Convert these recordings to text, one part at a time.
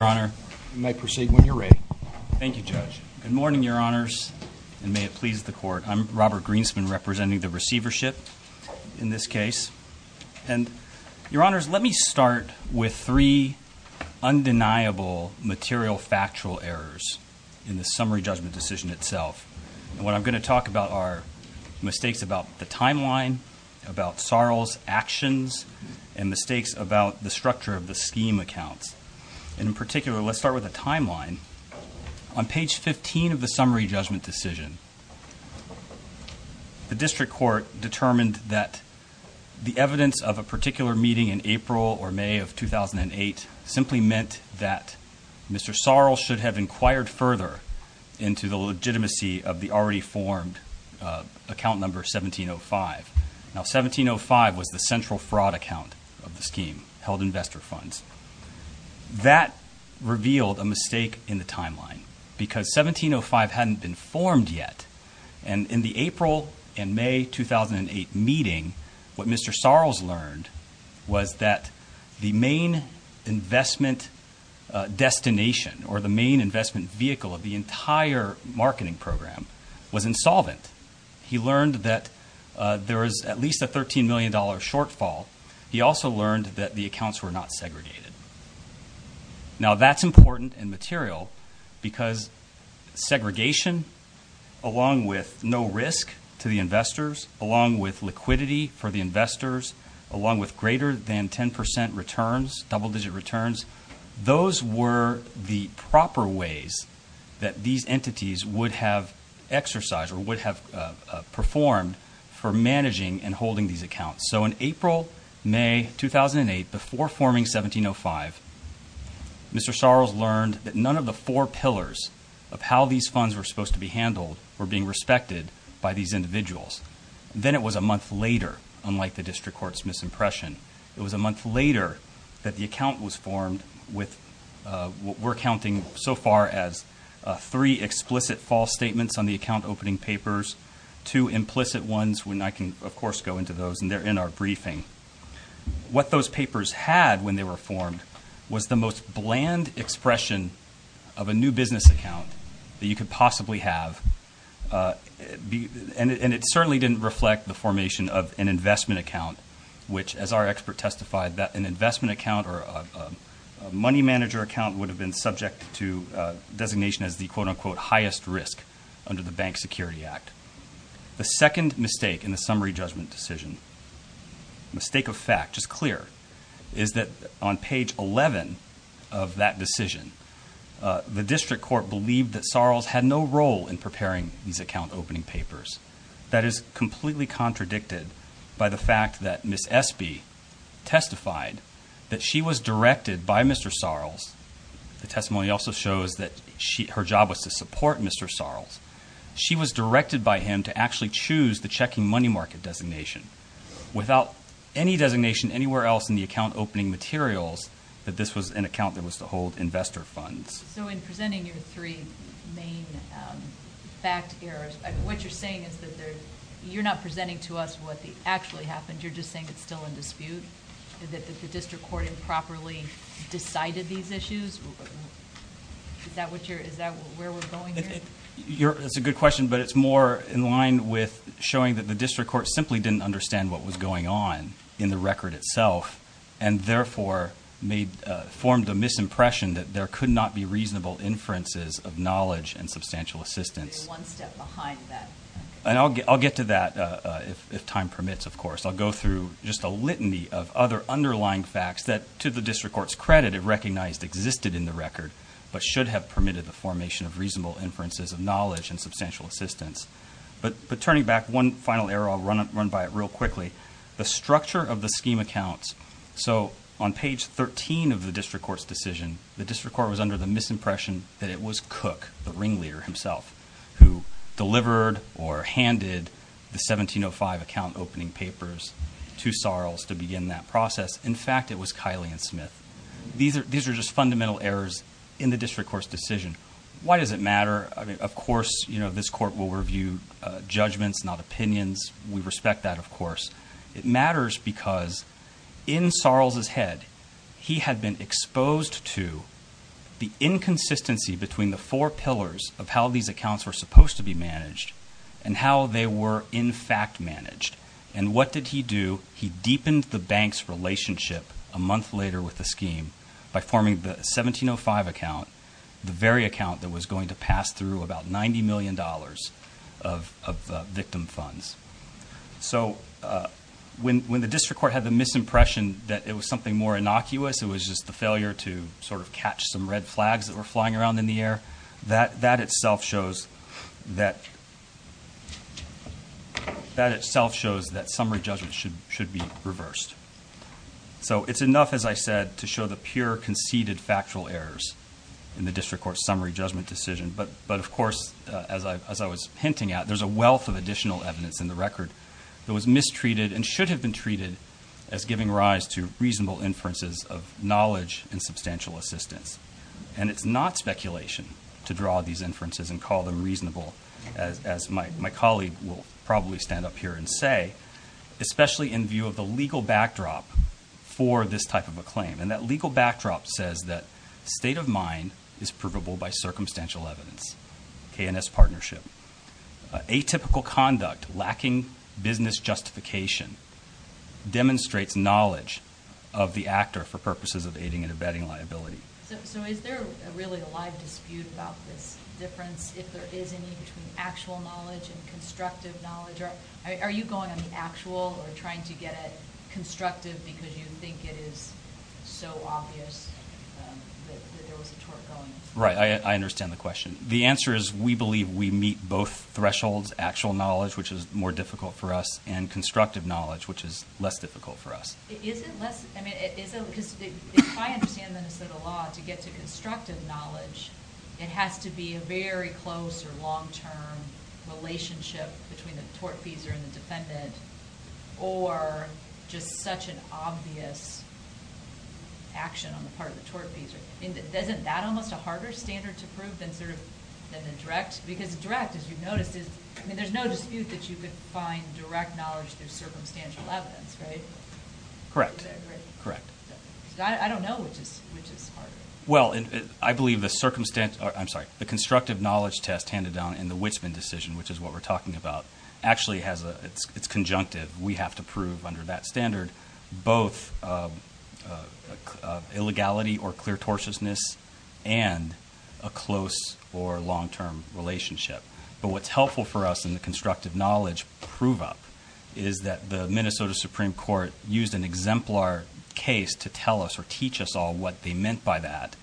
Your Honor. You may proceed when you're ready. Thank you, Judge. Good morning, Your Honors, and may it please the Court. I'm Robert Greenspan, representing the Receivership in this case. And Your Honors, let me start with three undeniable material factual errors in the summary judgment decision itself. And what I'm going to talk about are mistakes about the timeline, about the structure of the scheme accounts. And in particular, let's start with a timeline. On page 15 of the summary judgment decision, the District Court determined that the evidence of a particular meeting in April or May of 2008 simply meant that Mr. Sorrell should have inquired further into the legitimacy of the already formed account number 1705. Now, 1705 was the central fraud account of the scheme, held investor funds. That revealed a mistake in the timeline, because 1705 hadn't been formed yet. And in the April and May 2008 meeting, what Mr. Sorrell's learned was that the main investment destination or the there was at least a $13 million shortfall. He also learned that the accounts were not segregated. Now, that's important and material, because segregation, along with no risk to the investors, along with liquidity for the investors, along with greater than 10% returns, double-digit returns, those were the proper ways that these entities would have exercised or would have performed for managing and holding these accounts. So in April, May 2008, before forming 1705, Mr. Sorrell's learned that none of the four pillars of how these funds were supposed to be handled were being respected by these individuals. Then it was a month later, unlike the District Court's misimpression, it was a month later that the account was formed with what we're counting so far as three explicit false statements on the account opening papers, two implicit ones, and I can, of course, go into those, and they're in our briefing. What those papers had when they were formed was the most bland expression of a new business account that you could possibly have, and it certainly didn't reflect the formation of an investment account, which, as our expert testified, that an investment account or a money manager account would have been subject to designation as the quote-unquote highest risk under the Bank Security Act. The second mistake in the summary judgment decision, mistake of fact, just clear, is that on page 11 of that decision, the District Court believed that Sorrell's had no role in preparing these account opening papers. That is completely contradicted by the fact that Ms. Espy testified that she was directed by Mr. Sorrell's. The testimony also shows that her job was to support Mr. Sorrell's. She was directed by him to actually choose the checking money market designation. Without any designation anywhere else in the account opening materials, that this was an account that was to hold investor funds. So in presenting your three main fact errors, what you're saying is that you're not presenting to us what actually happened. You're just saying it's still in dispute, that the District Court improperly decided these issues? Is that where we're going here? That's a good question, but it's more in line with showing that the District Court simply didn't understand what was going on in the record itself, and therefore formed a misimpression that there could not be reasonable inferences of knowledge and substantial assistance. You're one step behind that. I'll get to that, if time permits, of course. I'll go through just a litany of other underlying facts that, to the District Court's credit, it recognized existed in the record, but should have permitted the formation of reasonable inferences of knowledge and substantial assistance. But turning back one final error, I'll run by it real quickly. The structure of the scheme accounts. So on page 13 of the District Court's decision, the District Court was under the misimpression that it was Cook, the ringleader himself, who delivered or handed the 1705 account opening papers to Sarles to begin that process. In fact, it was Kiley and Smith. These are just fundamental errors in the District Court's decision. Why does it matter? Of course, this Court will review judgments, not opinions. We respect that, of course. It matters because in Sarles' head, he had been exposed to the inconsistency between the four pillars of how these accounts were supposed to be managed and how they were, in fact, managed. And what did he do? He deepened the bank's relationship a month later with the scheme by forming the 1705 account, the very account that was going to pass through about $90 million of victim funds. So when the District Court had the misimpression that it was something more innocuous, it was just the failure to sort of catch some red flags that were flying around in the air, that itself shows that summary judgment should be reversed. So it's enough, as I said, to show the pure conceded factual errors in the District Court's summary judgment decision. But of course, as I was hinting at, there's a wealth of additional evidence in the record that was mistreated and should have been treated as giving rise to reasonable inferences of knowledge and to draw these inferences and call them reasonable, as my colleague will probably stand up here and say, especially in view of the legal backdrop for this type of a claim. And that legal backdrop says that state of mind is provable by circumstantial evidence, K&S partnership. Atypical conduct, lacking business justification, demonstrates knowledge of the actor for purposes of aiding and abetting liability. So is there really a live dispute about this difference if there is any between actual knowledge and constructive knowledge? Are you going on the actual or trying to get it constructive because you think it is so obvious that there was a tort going? Right, I understand the question. The answer is we believe we meet both thresholds, actual knowledge, which is more difficult for us, and constructive knowledge, which is less difficult for us. Is it less, I mean, is it, because if I understand Minnesota law to get to constructive knowledge, it has to be a very close or long-term relationship between the tortfeasor and the defendant or just such an obvious action on the part of the tortfeasor. Isn't that almost a harder standard to prove than sort of, than the direct? Because direct, as you've noticed, is, I mean, there's no dispute that you could find direct knowledge through circumstantial evidence, right? Correct, correct. I don't know which is which is smarter. Well, I believe the circumstantial, I'm sorry, the constructive knowledge test handed down in the Wichman decision, which is what we're talking about, actually has a, it's conjunctive. We have to prove under that standard both illegality or clear tortiousness and a close or long-term relationship. But what's helpful for us in the constructive knowledge prove-up is that the Minnesota Supreme Court used an exemplar case to tell us or teach us all what they meant by that.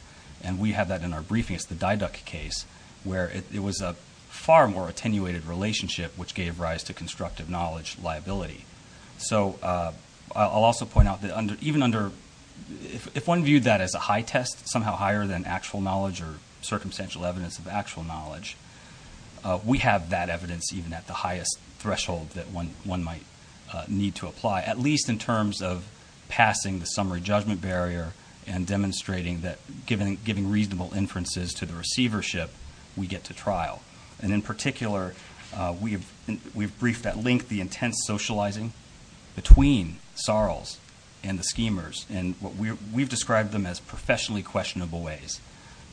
And we have that in our briefing. It's the Diduck case, where it was a far more attenuated relationship, which gave rise to constructive knowledge liability. So I'll also point out that under, even under, if one viewed that as a high test, somehow higher than actual knowledge or circumstantial evidence of actual knowledge, we have that evidence even at the highest threshold that one might need to apply, at least in terms of passing the summary judgment barrier and demonstrating that giving reasonable inferences to the receivership, we get to trial. And in particular, we've briefed at length the intense socializing between Sarles and the schemers, and we've described them as professionally questionable ways.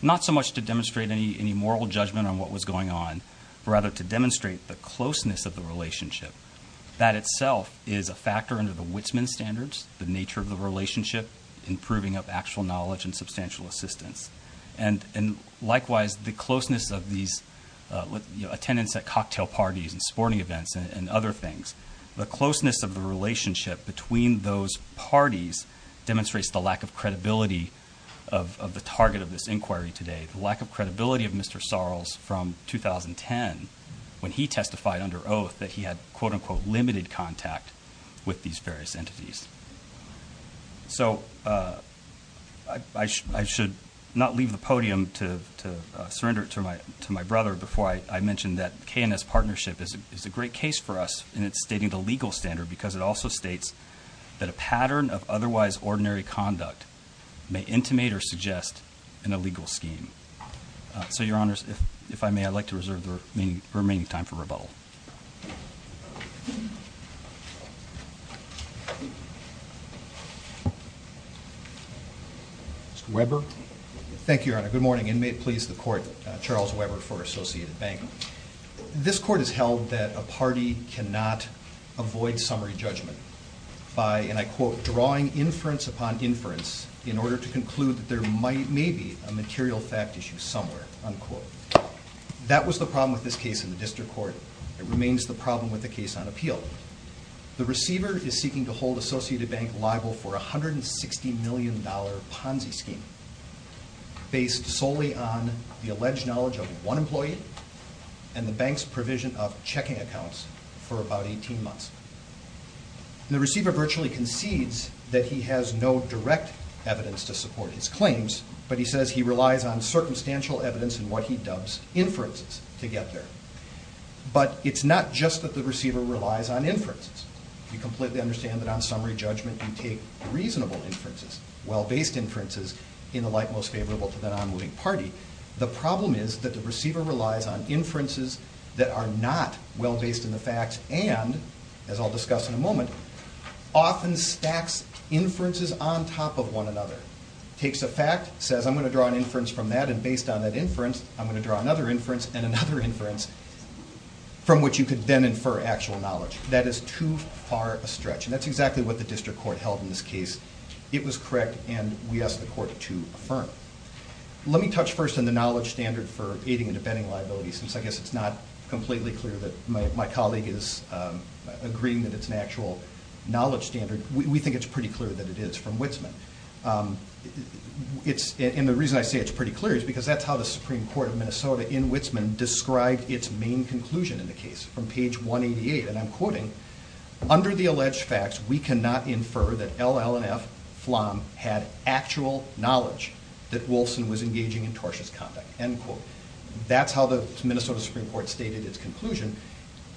Not so much to demonstrate any moral judgment on what was going on, but rather to demonstrate the closeness of the relationship. That itself is a factor under the Wittsman standards, the nature of the relationship, improving of actual knowledge and substantial assistance. And likewise, the closeness of these, you know, attendance at cocktail parties and sporting events and other things, the closeness of the relationship between those parties demonstrates the lack of credibility of the target of this inquiry today. The lack of credibility of Mr. Sarles from 2010, when he testified under oath that he had quote-unquote limited contact with these various entities. So I should not leave the podium to surrender it to my brother before I mention that KNS partnership is a great case for us in its stating the legal standard, because it also states that a pattern of otherwise ordinary conduct may intimate or suggest an illegal scheme. So your honors, if I may, I'd like to reserve the remaining time for rebuttal. Mr. Weber. Thank you, your honor. Good morning, and may it please the court, Charles Weber for summary judgment by, and I quote, drawing inference upon inference in order to conclude that there may be a material fact issue somewhere, unquote. That was the problem with this case in the district court. It remains the problem with the case on appeal. The receiver is seeking to hold Associated Bank liable for $160 million Ponzi scheme based solely on the alleged knowledge of one employee and the bank's provision of checking accounts for about 18 months. The receiver virtually concedes that he has no direct evidence to support his claims, but he says he relies on circumstantial evidence in what he dubs inferences to get there. But it's not just that the receiver relies on inferences. You completely understand that on summary judgment you take reasonable inferences, well-based inferences, in the light most favorable to the non-moving party. The problem is that the receiver relies on inferences that are not well-based in the facts and, as I'll discuss in a moment, often stacks inferences on top of one another. Takes a fact, says I'm going to draw an inference from that, and based on that inference I'm going to draw another inference and another inference from which you could then infer actual knowledge. That is too far a stretch, and that's exactly what the district court held in this case. It was correct and we asked the court to affirm. Let me touch first on the knowledge standard for aiding and abetting liability since I guess it's not completely clear that my colleague is agreeing that it's an actual knowledge standard. We think it's pretty clear that it is from Wittsman. And the reason I say it's pretty clear is because that's how the Supreme Court of Minnesota in Wittsman described its main conclusion in the case from page 188, and I'm quoting, under the alleged facts we cannot infer that LL&F had actual knowledge that Wolfson was engaging in tortious conduct, end quote. That's how the Minnesota Supreme Court stated its conclusion.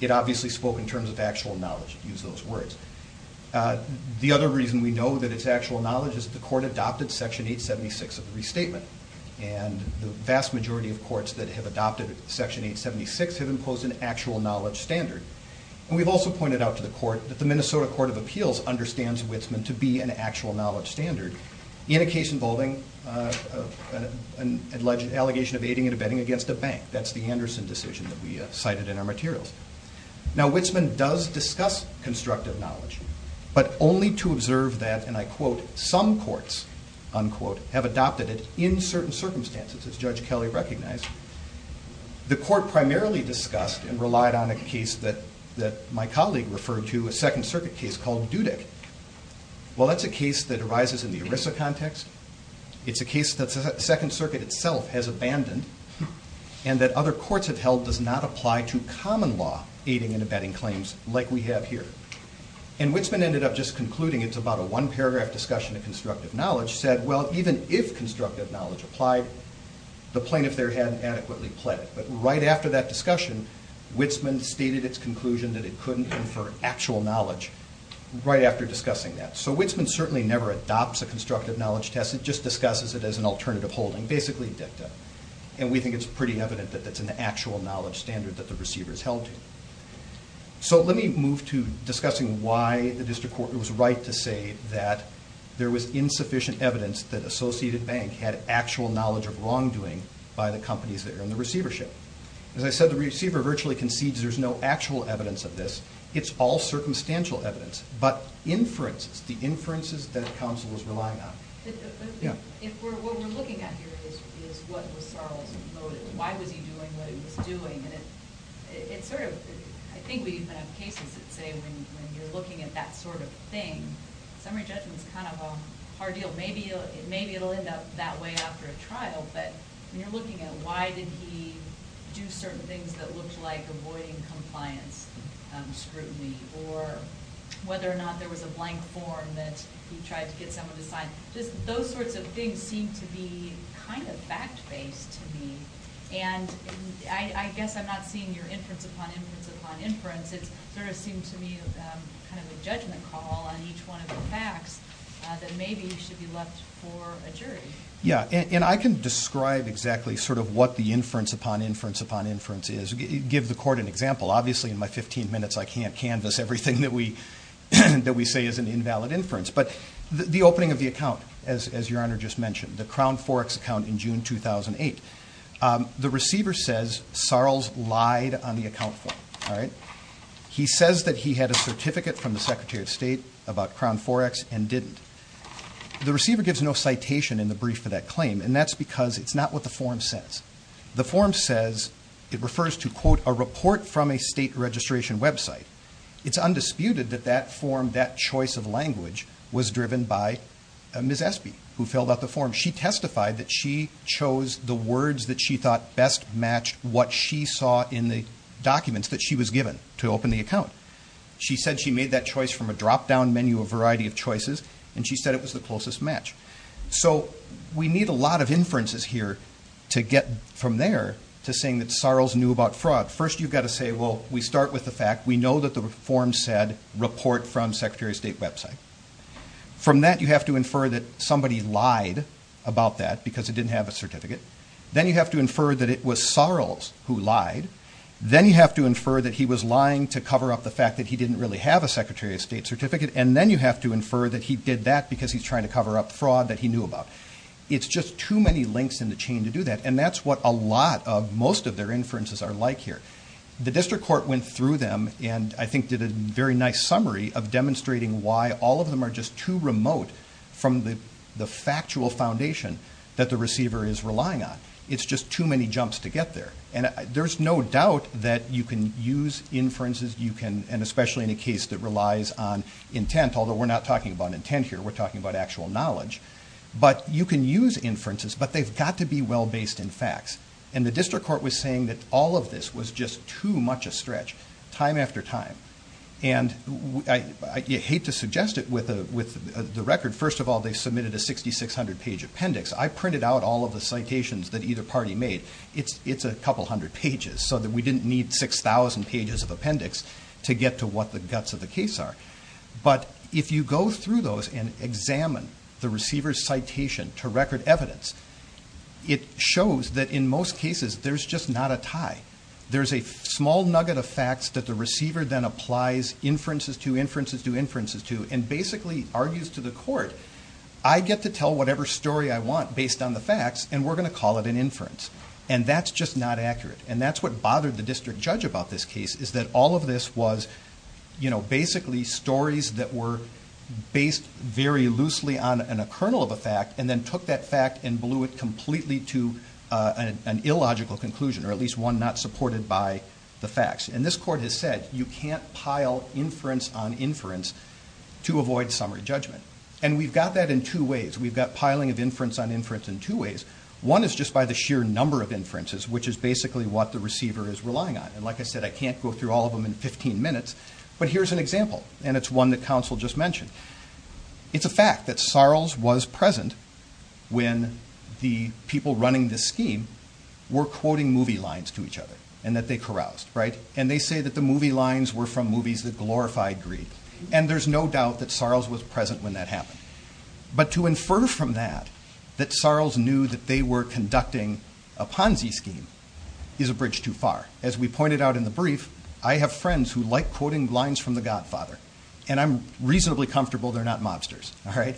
It obviously spoke in terms of actual knowledge, use those words. The other reason we know that it's actual knowledge is the court adopted section 876 of the restatement, and the vast majority of courts that have adopted section 876 have imposed an actual knowledge standard. And we've also pointed out to the court that the Minnesota standard in a case involving an alleged allegation of aiding and abetting against a bank. That's the Anderson decision that we cited in our materials. Now Wittsman does discuss constructive knowledge, but only to observe that, and I quote, some courts, unquote, have adopted it in certain circumstances as Judge Kelly recognized. The court primarily discussed and relied on a case that arises in the ERISA context. It's a case that the Second Circuit itself has abandoned, and that other courts have held does not apply to common law aiding and abetting claims like we have here. And Wittsman ended up just concluding, it's about a one paragraph discussion of constructive knowledge, said well even if constructive knowledge applied, the plaintiff there hadn't adequately pledged. But right after that discussion, Wittsman stated its conclusion that it couldn't infer actual knowledge right after discussing that. So Wittsman certainly never adopts a constructive knowledge test, it just discusses it as an alternative holding, basically dicta. And we think it's pretty evident that that's an actual knowledge standard that the receiver's held to. So let me move to discussing why the district court was right to say that there was insufficient evidence that Associated Bank had actual knowledge of wrongdoing by the companies that are in the receivership. As I said, the receiver virtually concedes there's no actual evidence of this. It's all circumstantial evidence, but inferences, the inferences that counsel is relying on. What we're looking at here is what was Sarles' motive. Why was he doing what he was doing? And it's sort of, I think we even have cases that say when you're looking at that sort of thing, summary judgment's kind of a hard deal. Maybe it'll end up that way after a trial, but when you're looking at why did he do certain things that looked like avoiding compliance scrutiny or whether or not there was a blank form that he tried to get someone to sign, just those sorts of things seem to be kind of fact-based to me. And I guess I'm not seeing your inference upon inference upon inference. It's sort of seemed to me kind of a judgment call on each one of the facts that maybe should be left for a jury. Yeah, and I can describe exactly sort of what the inference upon inference upon inference is. Give the court an example. Obviously in my 15 minutes, I can't canvas everything that we say is an invalid inference. But the opening of the account, as your honor just mentioned, the Crown Forex account in June 2008, the receiver says Sarles lied on the account form, all right? He says that he had a certificate from the Crown Forex and didn't. The receiver gives no citation in the brief for that claim, and that's because it's not what the form says. The form says, it refers to, quote, a report from a state registration website. It's undisputed that that form, that choice of language, was driven by Ms. Espy, who filled out the form. She testified that she chose the words that she thought best matched what she saw in the documents that she was given to open the account. She said she made that choice from a drop-down menu of a variety of choices, and she said it was the closest match. So we need a lot of inferences here to get from there to saying that Sarles knew about fraud. First, you've got to say, well, we start with the fact. We know that the form said, report from Secretary of State website. From that, you have to infer that somebody lied about that because it didn't have a certificate. Then you have to infer that it was Sarles who lied. Then you have to infer that he was lying to cover up the fact that he didn't really have a Secretary of State certificate, and then you have to infer that he did that because he's trying to cover up fraud that he knew about. It's just too many links in the chain to do that, and that's what a lot of most of their inferences are like here. The district court went through them and, I think, did a very nice summary of demonstrating why all of them are just too remote from the factual foundation that the receiver is relying on. It's just too many jumps to get there, and there's no doubt that you can use inferences, and especially in a case that relies on intent, although we're not talking about intent here. We're talking about actual knowledge, but you can use inferences, but they've got to be well-based in facts. The district court was saying that all of this was just too much a stretch, time after time. I hate to suggest it with the record. First of all, they submitted a 6,600-page appendix. I printed out all of the pages so that we didn't need 6,000 pages of appendix to get to what the guts of the case are, but if you go through those and examine the receiver's citation to record evidence, it shows that in most cases there's just not a tie. There's a small nugget of facts that the receiver then applies inferences to, inferences to, inferences to, and basically argues to the court, I get to tell whatever story I want based on the facts, and we're going to call it an inference, and that's just not accurate, and that's what bothered the district judge about this case is that all of this was basically stories that were based very loosely on a kernel of a fact and then took that fact and blew it completely to an illogical conclusion or at least one not supported by the facts, and this court has said you can't pile inference on inference to avoid summary judgment, and we've got that in two ways. We've got piling of inference on inference in two ways. One is just by the sheer number of inferences, which is basically what the receiver is relying on, and like I said, I can't go through all of them in 15 minutes, but here's an example, and it's one that counsel just mentioned. It's a fact that Sarles was present when the people running this scheme were quoting movie lines to each other and that they caroused, right, and they say that the movie lines were from movies that glorified greed, and there's no doubt that Sarles was present when that happened, but to infer from that that Sarles knew that they were conducting a Ponzi scheme is a bridge too far. As we pointed out in the brief, I have friends who like quoting lines from The Godfather, and I'm reasonably comfortable they're not mobsters, all right?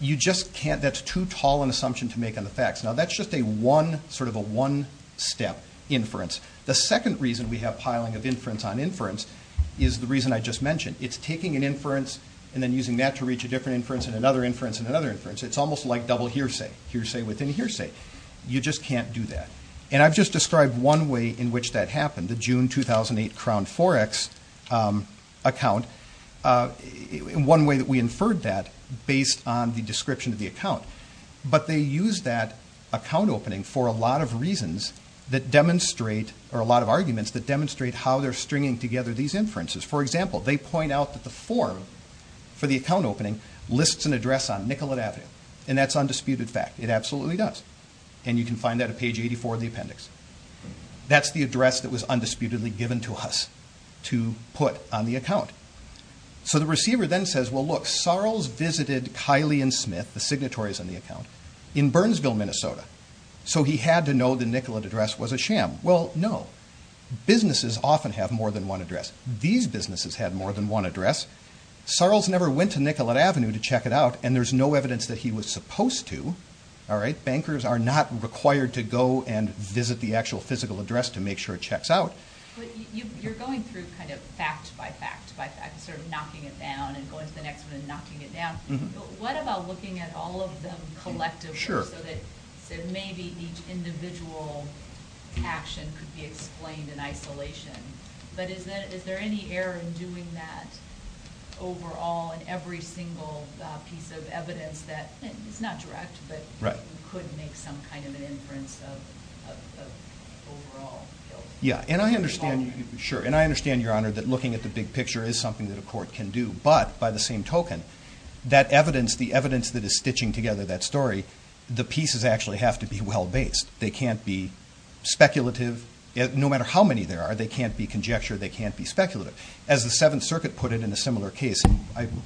You just can't. That's too tall an assumption to make on the facts. Now, that's just a one, sort of a one-step inference. The second reason we have piling of inference on inference is the to reach a different inference and another inference and another inference. It's almost like double hearsay, hearsay within hearsay. You just can't do that, and I've just described one way in which that happened, the June 2008 Crown Forex account, one way that we inferred that based on the description of the account, but they use that account opening for a lot of reasons that demonstrate, or a lot of arguments that demonstrate how they're stringing together these inferences. For example, they point out that the form for the account opening lists an address on Nicollet Avenue, and that's undisputed fact. It absolutely does, and you can find that at page 84 of the appendix. That's the address that was undisputedly given to us to put on the account. So the receiver then says, well, look, Sarles visited Kylie and Smith, the signatories on the account, in Burnsville, Minnesota, so he had to know the Nicollet address was a sham. Well, businesses often have more than one address. These businesses had more than one address. Sarles never went to Nicollet Avenue to check it out, and there's no evidence that he was supposed to. Bankers are not required to go and visit the actual physical address to make sure it checks out. But you're going through kind of fact by fact by fact, sort of knocking it down and going to the next one and knocking it down, but what about looking at all of them collectively so that maybe each individual action could be explained in isolation, but is there any error in doing that overall in every single piece of evidence that is not direct, but could make some kind of an Yeah, and I understand, sure, and I understand, Your Honor, that looking at the big picture is something that a court can do, but by the same token, that evidence, the evidence that is stitching together that story, the pieces actually have to be well-based. They can't be speculative, no matter how many there are, they can't be conjecture, they can't be speculative. As the Seventh Circuit put it in a similar case, and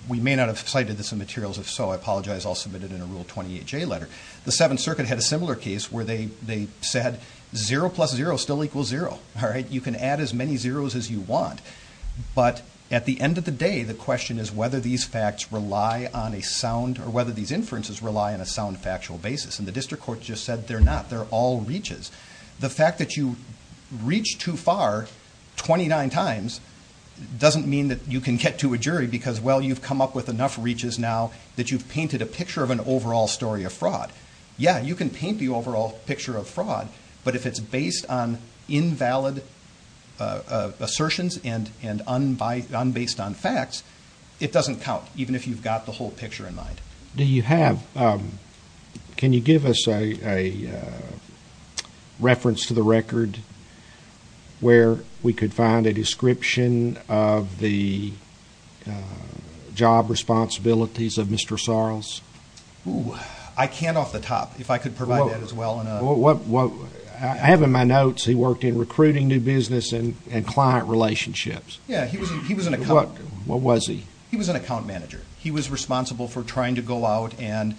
we may not have cited this in materials, if so, I apologize, I'll submit it in a Rule 28J letter. The Seventh Circuit had a similar case where they said zero plus zero still equals zero. You can add as many zeros as you want, but at the end of the day, the question is whether these facts rely on a sound, or whether these inferences rely on a sound factual basis, and the district court just said they're not, they're all reaches. The fact that you reach too far 29 times doesn't mean that you can get to a jury because, well, you've come up with enough reaches now that you've painted a picture of fraud, but if it's based on invalid assertions and based on facts, it doesn't count, even if you've got the whole picture in mind. Do you have, can you give us a reference to the record where we could find a description of the job responsibilities of Mr. Sarles? Oh, I can't off the top, if I could provide that as well. I have in my notes he worked in recruiting new business and client relationships. Yeah, he was an account manager. He was responsible for trying to go out and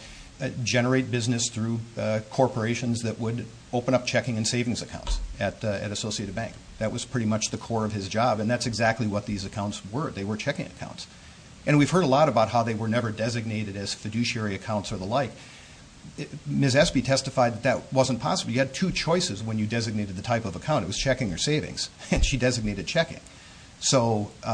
generate business through corporations that would open up checking and savings accounts at Associated Bank. That was pretty much the core of his job, and that's exactly what these accounts were. They were checking accounts, and we've heard a lot about how they were never designated as fiduciary accounts or the like. Ms. Espy testified that that wasn't possible. You had two choices when you designated the type of account. It was checking or savings, and she designated checking. But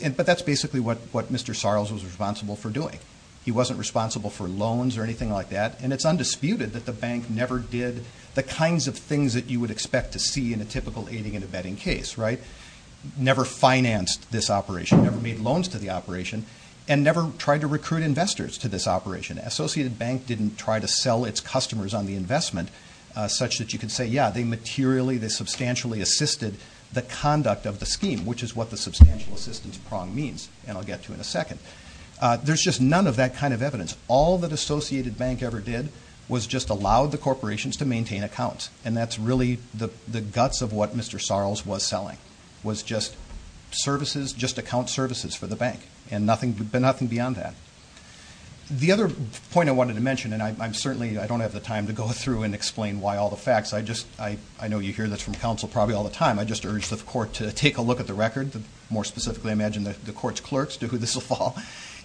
that's basically what Mr. Sarles was responsible for doing. He wasn't responsible for loans or anything like that, and it's undisputed that the bank never did the kinds of things that you would expect to see in a typical aiding and abetting case, right? Never financed this operation, never made loans to the operation, and never tried to recruit and invest to this operation. Associated Bank didn't try to sell its customers on the investment such that you could say, yeah, they materially, they substantially assisted the conduct of the scheme, which is what the substantial assistance prong means, and I'll get to in a second. There's just none of that kind of evidence. All that Associated Bank ever did was just allow the corporations to maintain accounts, and that's really the guts of what Mr. Sarles was selling, was just services, just account services for the bank, and nothing beyond that. The other point I wanted to mention, and I'm certainly, I don't have the time to go through and explain why all the facts, I just, I know you hear this from counsel probably all the time, I just urge the court to take a look at the record, more specifically, I imagine the court's clerks do, this will fall,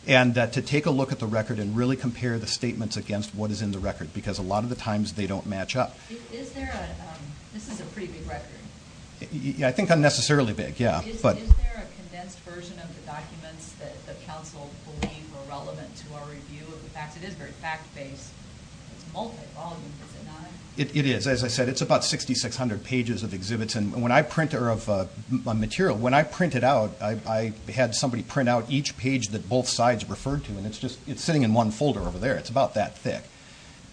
and to take a look at the record and really compare the statements against what is in the record, because a lot of the times they don't match up. Is there a, this is a pretty big record. I think unnecessarily big, yeah. Is there a condensed version of the documents that the counsel believe are relevant to our review of the facts? It is very fact-based. It's multi-volume, is it not? It is. As I said, it's about 6,600 pages of exhibits, and when I print, or of material, when I print it out, I had somebody print out each page that both sides referred to, and it's just, it's sitting in one folder over there. It's about that thick.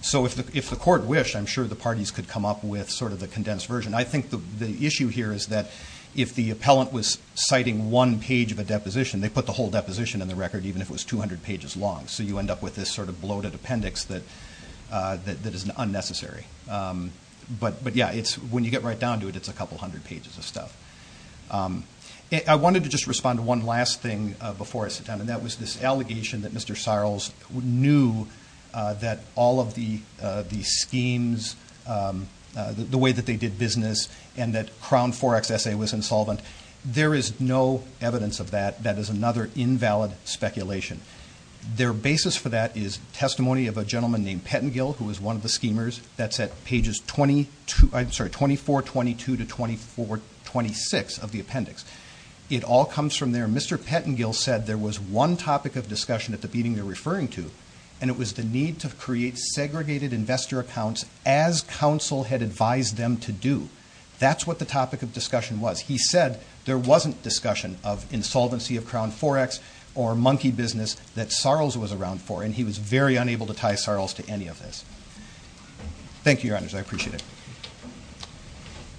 So if the court wished, I'm sure the parties could come up with sort of the condensed version. I think the issue here is that if the appellant was citing one page of a deposition, they put the whole deposition in the record, even if it was 200 pages long. So you end up with this sort of bloated appendix that is unnecessary. But yeah, it's, when you get right down to it, it's a couple hundred pages of stuff. I wanted to just respond to one last thing before I sit down, and that was this allegation that Mr. Seierls knew that all of the schemes, the way that they did business, and that Crown Forex S.A. was insolvent. There is no evidence of that. That is another invalid speculation. Their basis for that is testimony of a gentleman named Pettengill, who was one of the schemers, that's at pages 24, 22 to 24, 26 of the appendix. It all comes from there. Mr. Pettengill said there was one topic of discussion at the meeting they're referring to, and it was the need to create segregated investor accounts as counsel had advised them to do. That's what the topic of discussion was. He said there wasn't discussion of insolvency of Crown Forex or monkey business that Seierls was around for, and he was very unable to tie Seierls to any of this. Thank you, Your Honors. I appreciate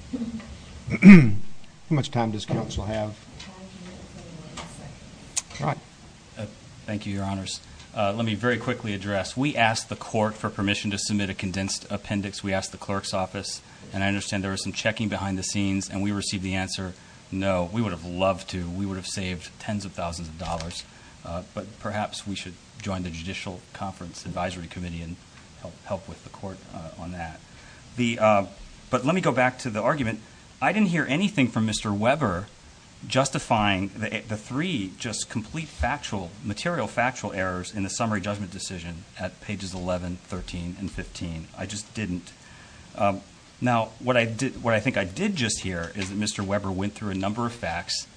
it. How much time does counsel have? Thank you, Your Honors. Let me very quickly address. We asked the court for permission to submit a condensed appendix. We asked the clerk's office, and I understand there was some checking behind the scenes, and we received the answer, no. We would have loved to. We would have saved tens of thousands of dollars, but perhaps we should join the Judicial Conference Advisory Committee and help with the court on that. But let me go back to the argument. I didn't hear anything from Mr. Weber justifying the three just complete material factual errors in the summary judgment decision at pages 11, 13, and 15. I just didn't. Now, what I think I did just hear is that Mr. Weber went through a number of facts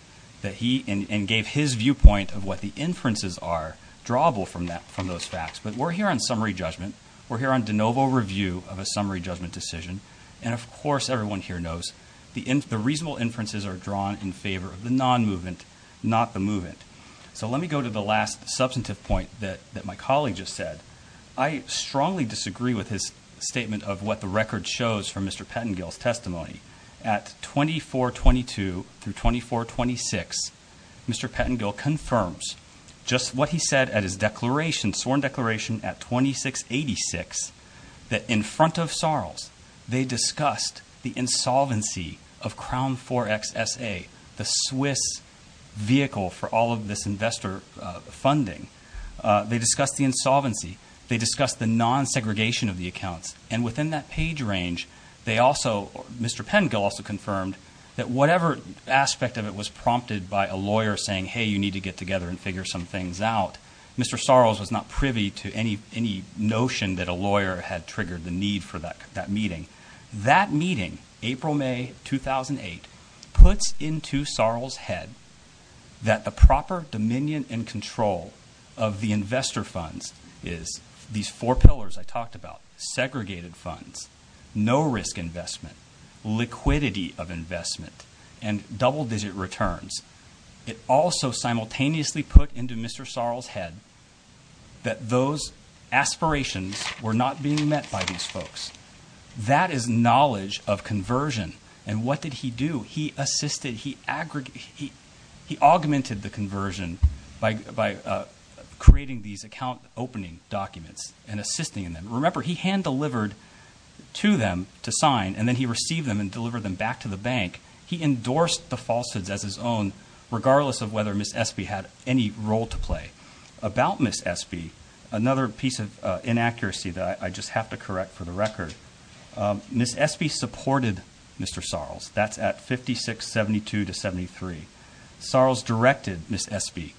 and gave his viewpoint of what the inferences are from those facts. But we're here on summary judgment. We're here on de novo review of a summary judgment decision. And of course, everyone here knows the reasonable inferences are drawn in favor of the non-movement, not the movement. So let me go to the last substantive point that my colleague just said. I strongly disagree with his statement of what the record shows from Mr. Pettengill. In page 2426, Mr. Pettengill confirms just what he said at his sworn declaration at 2686 that in front of Sarles, they discussed the insolvency of Crown 4XSA, the Swiss vehicle for all of this investor funding. They discussed the insolvency. They discussed the non-segregation of the accounts. And within that page range, Mr. Pettengill also confirmed that whatever aspect of it was prompted by a lawyer saying, hey, you need to get together and figure some things out. Mr. Sarles was not privy to any notion that a lawyer had triggered the need for that meeting. That meeting, April, May 2008, puts into Sarles' head that the proper dominion and control of the investor funds is these four pillars I talked about, segregated funds, no risk investment, liquidity of investment, and double-digit returns. It also simultaneously put into Mr. Sarles' head that those aspirations were not being met by these folks. That is knowledge of conversion. And what did he do? He assisted. He augmented the conversion by creating these account opening documents and assisting in them. Remember, he hand-delivered to them to sign, and then he received them and delivered them back to the bank. He endorsed the falsehoods as his own, regardless of whether Ms. Espy had any role to play. About Ms. Espy, another piece of inaccuracy that I just have to correct for the record, Ms. Espy supported Mr. Sarles. That's at 5672 to 73. Sarles directed Ms. Espy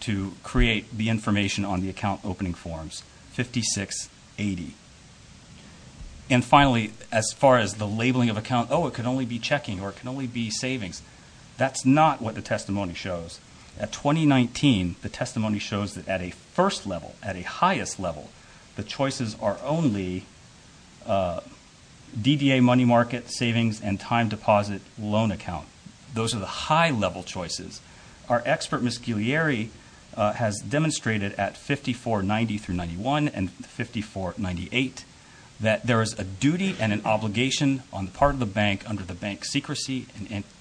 to create the information on the account opening forms, 5680. And finally, as far as the labeling of account, oh, it can only be checking or it can only be savings, that's not what the testimony shows. At 2019, the testimony shows that at a first level, at a highest level, the choices are only DDA money market, savings, and time deposit loan account. Those are the high level choices. Our expert, Ms. Guglieri, has demonstrated at 5490 through 91 and 5498 that there is a duty and an obligation on the part of the bank under the Bank Secrecy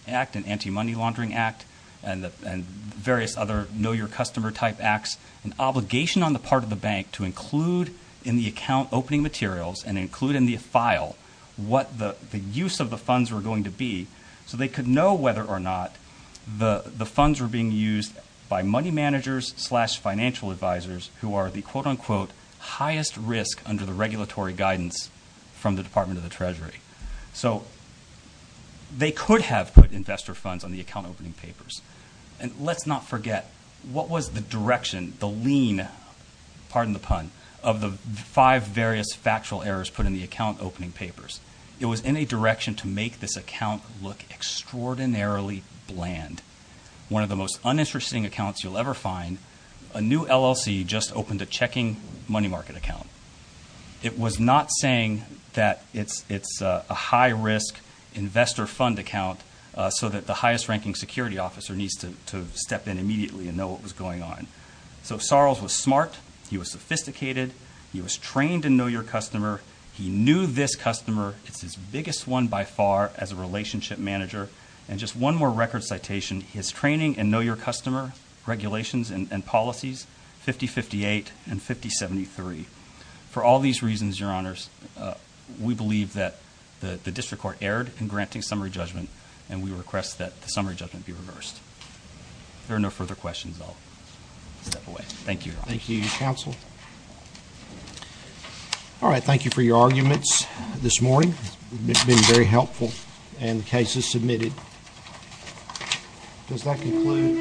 Act and Anti-Money Laundering Act and various other know-your-customer type acts, an obligation on the part of the bank to include in the account opening materials and include in the file what the use of the funds were going to be so they could know whether or not the funds were being used by money managers slash financial advisors who are the quote-unquote highest risk under the regulatory guidance from the Department of the Treasury. So, they could have put investor funds on the account opening papers. And let's not forget, what was the direction, the lean, pardon the pun, of the five various factual errors put in the account opening papers? It was in a direction to make this account look extraordinarily bland. One of the most uninteresting accounts you'll ever find, a new LLC just opened a checking money market account. It was not saying that it's a high-risk investor fund account so that the you know what was going on. So, Sorrells was smart. He was sophisticated. He was trained in know-your-customer. He knew this customer. It's his biggest one by far as a relationship manager. And just one more record citation, his training in know-your-customer regulations and policies, 5058 and 5073. For all these reasons, Your Honors, we believe that the District Court erred in granting summary judgment and we request that the summary judgment be reversed. There are no further questions. I'll step away. Thank you, Your Honor. Thank you, Your Counsel. All right. Thank you for your arguments this morning. It's been very helpful and the case is submitted. Does that conclude?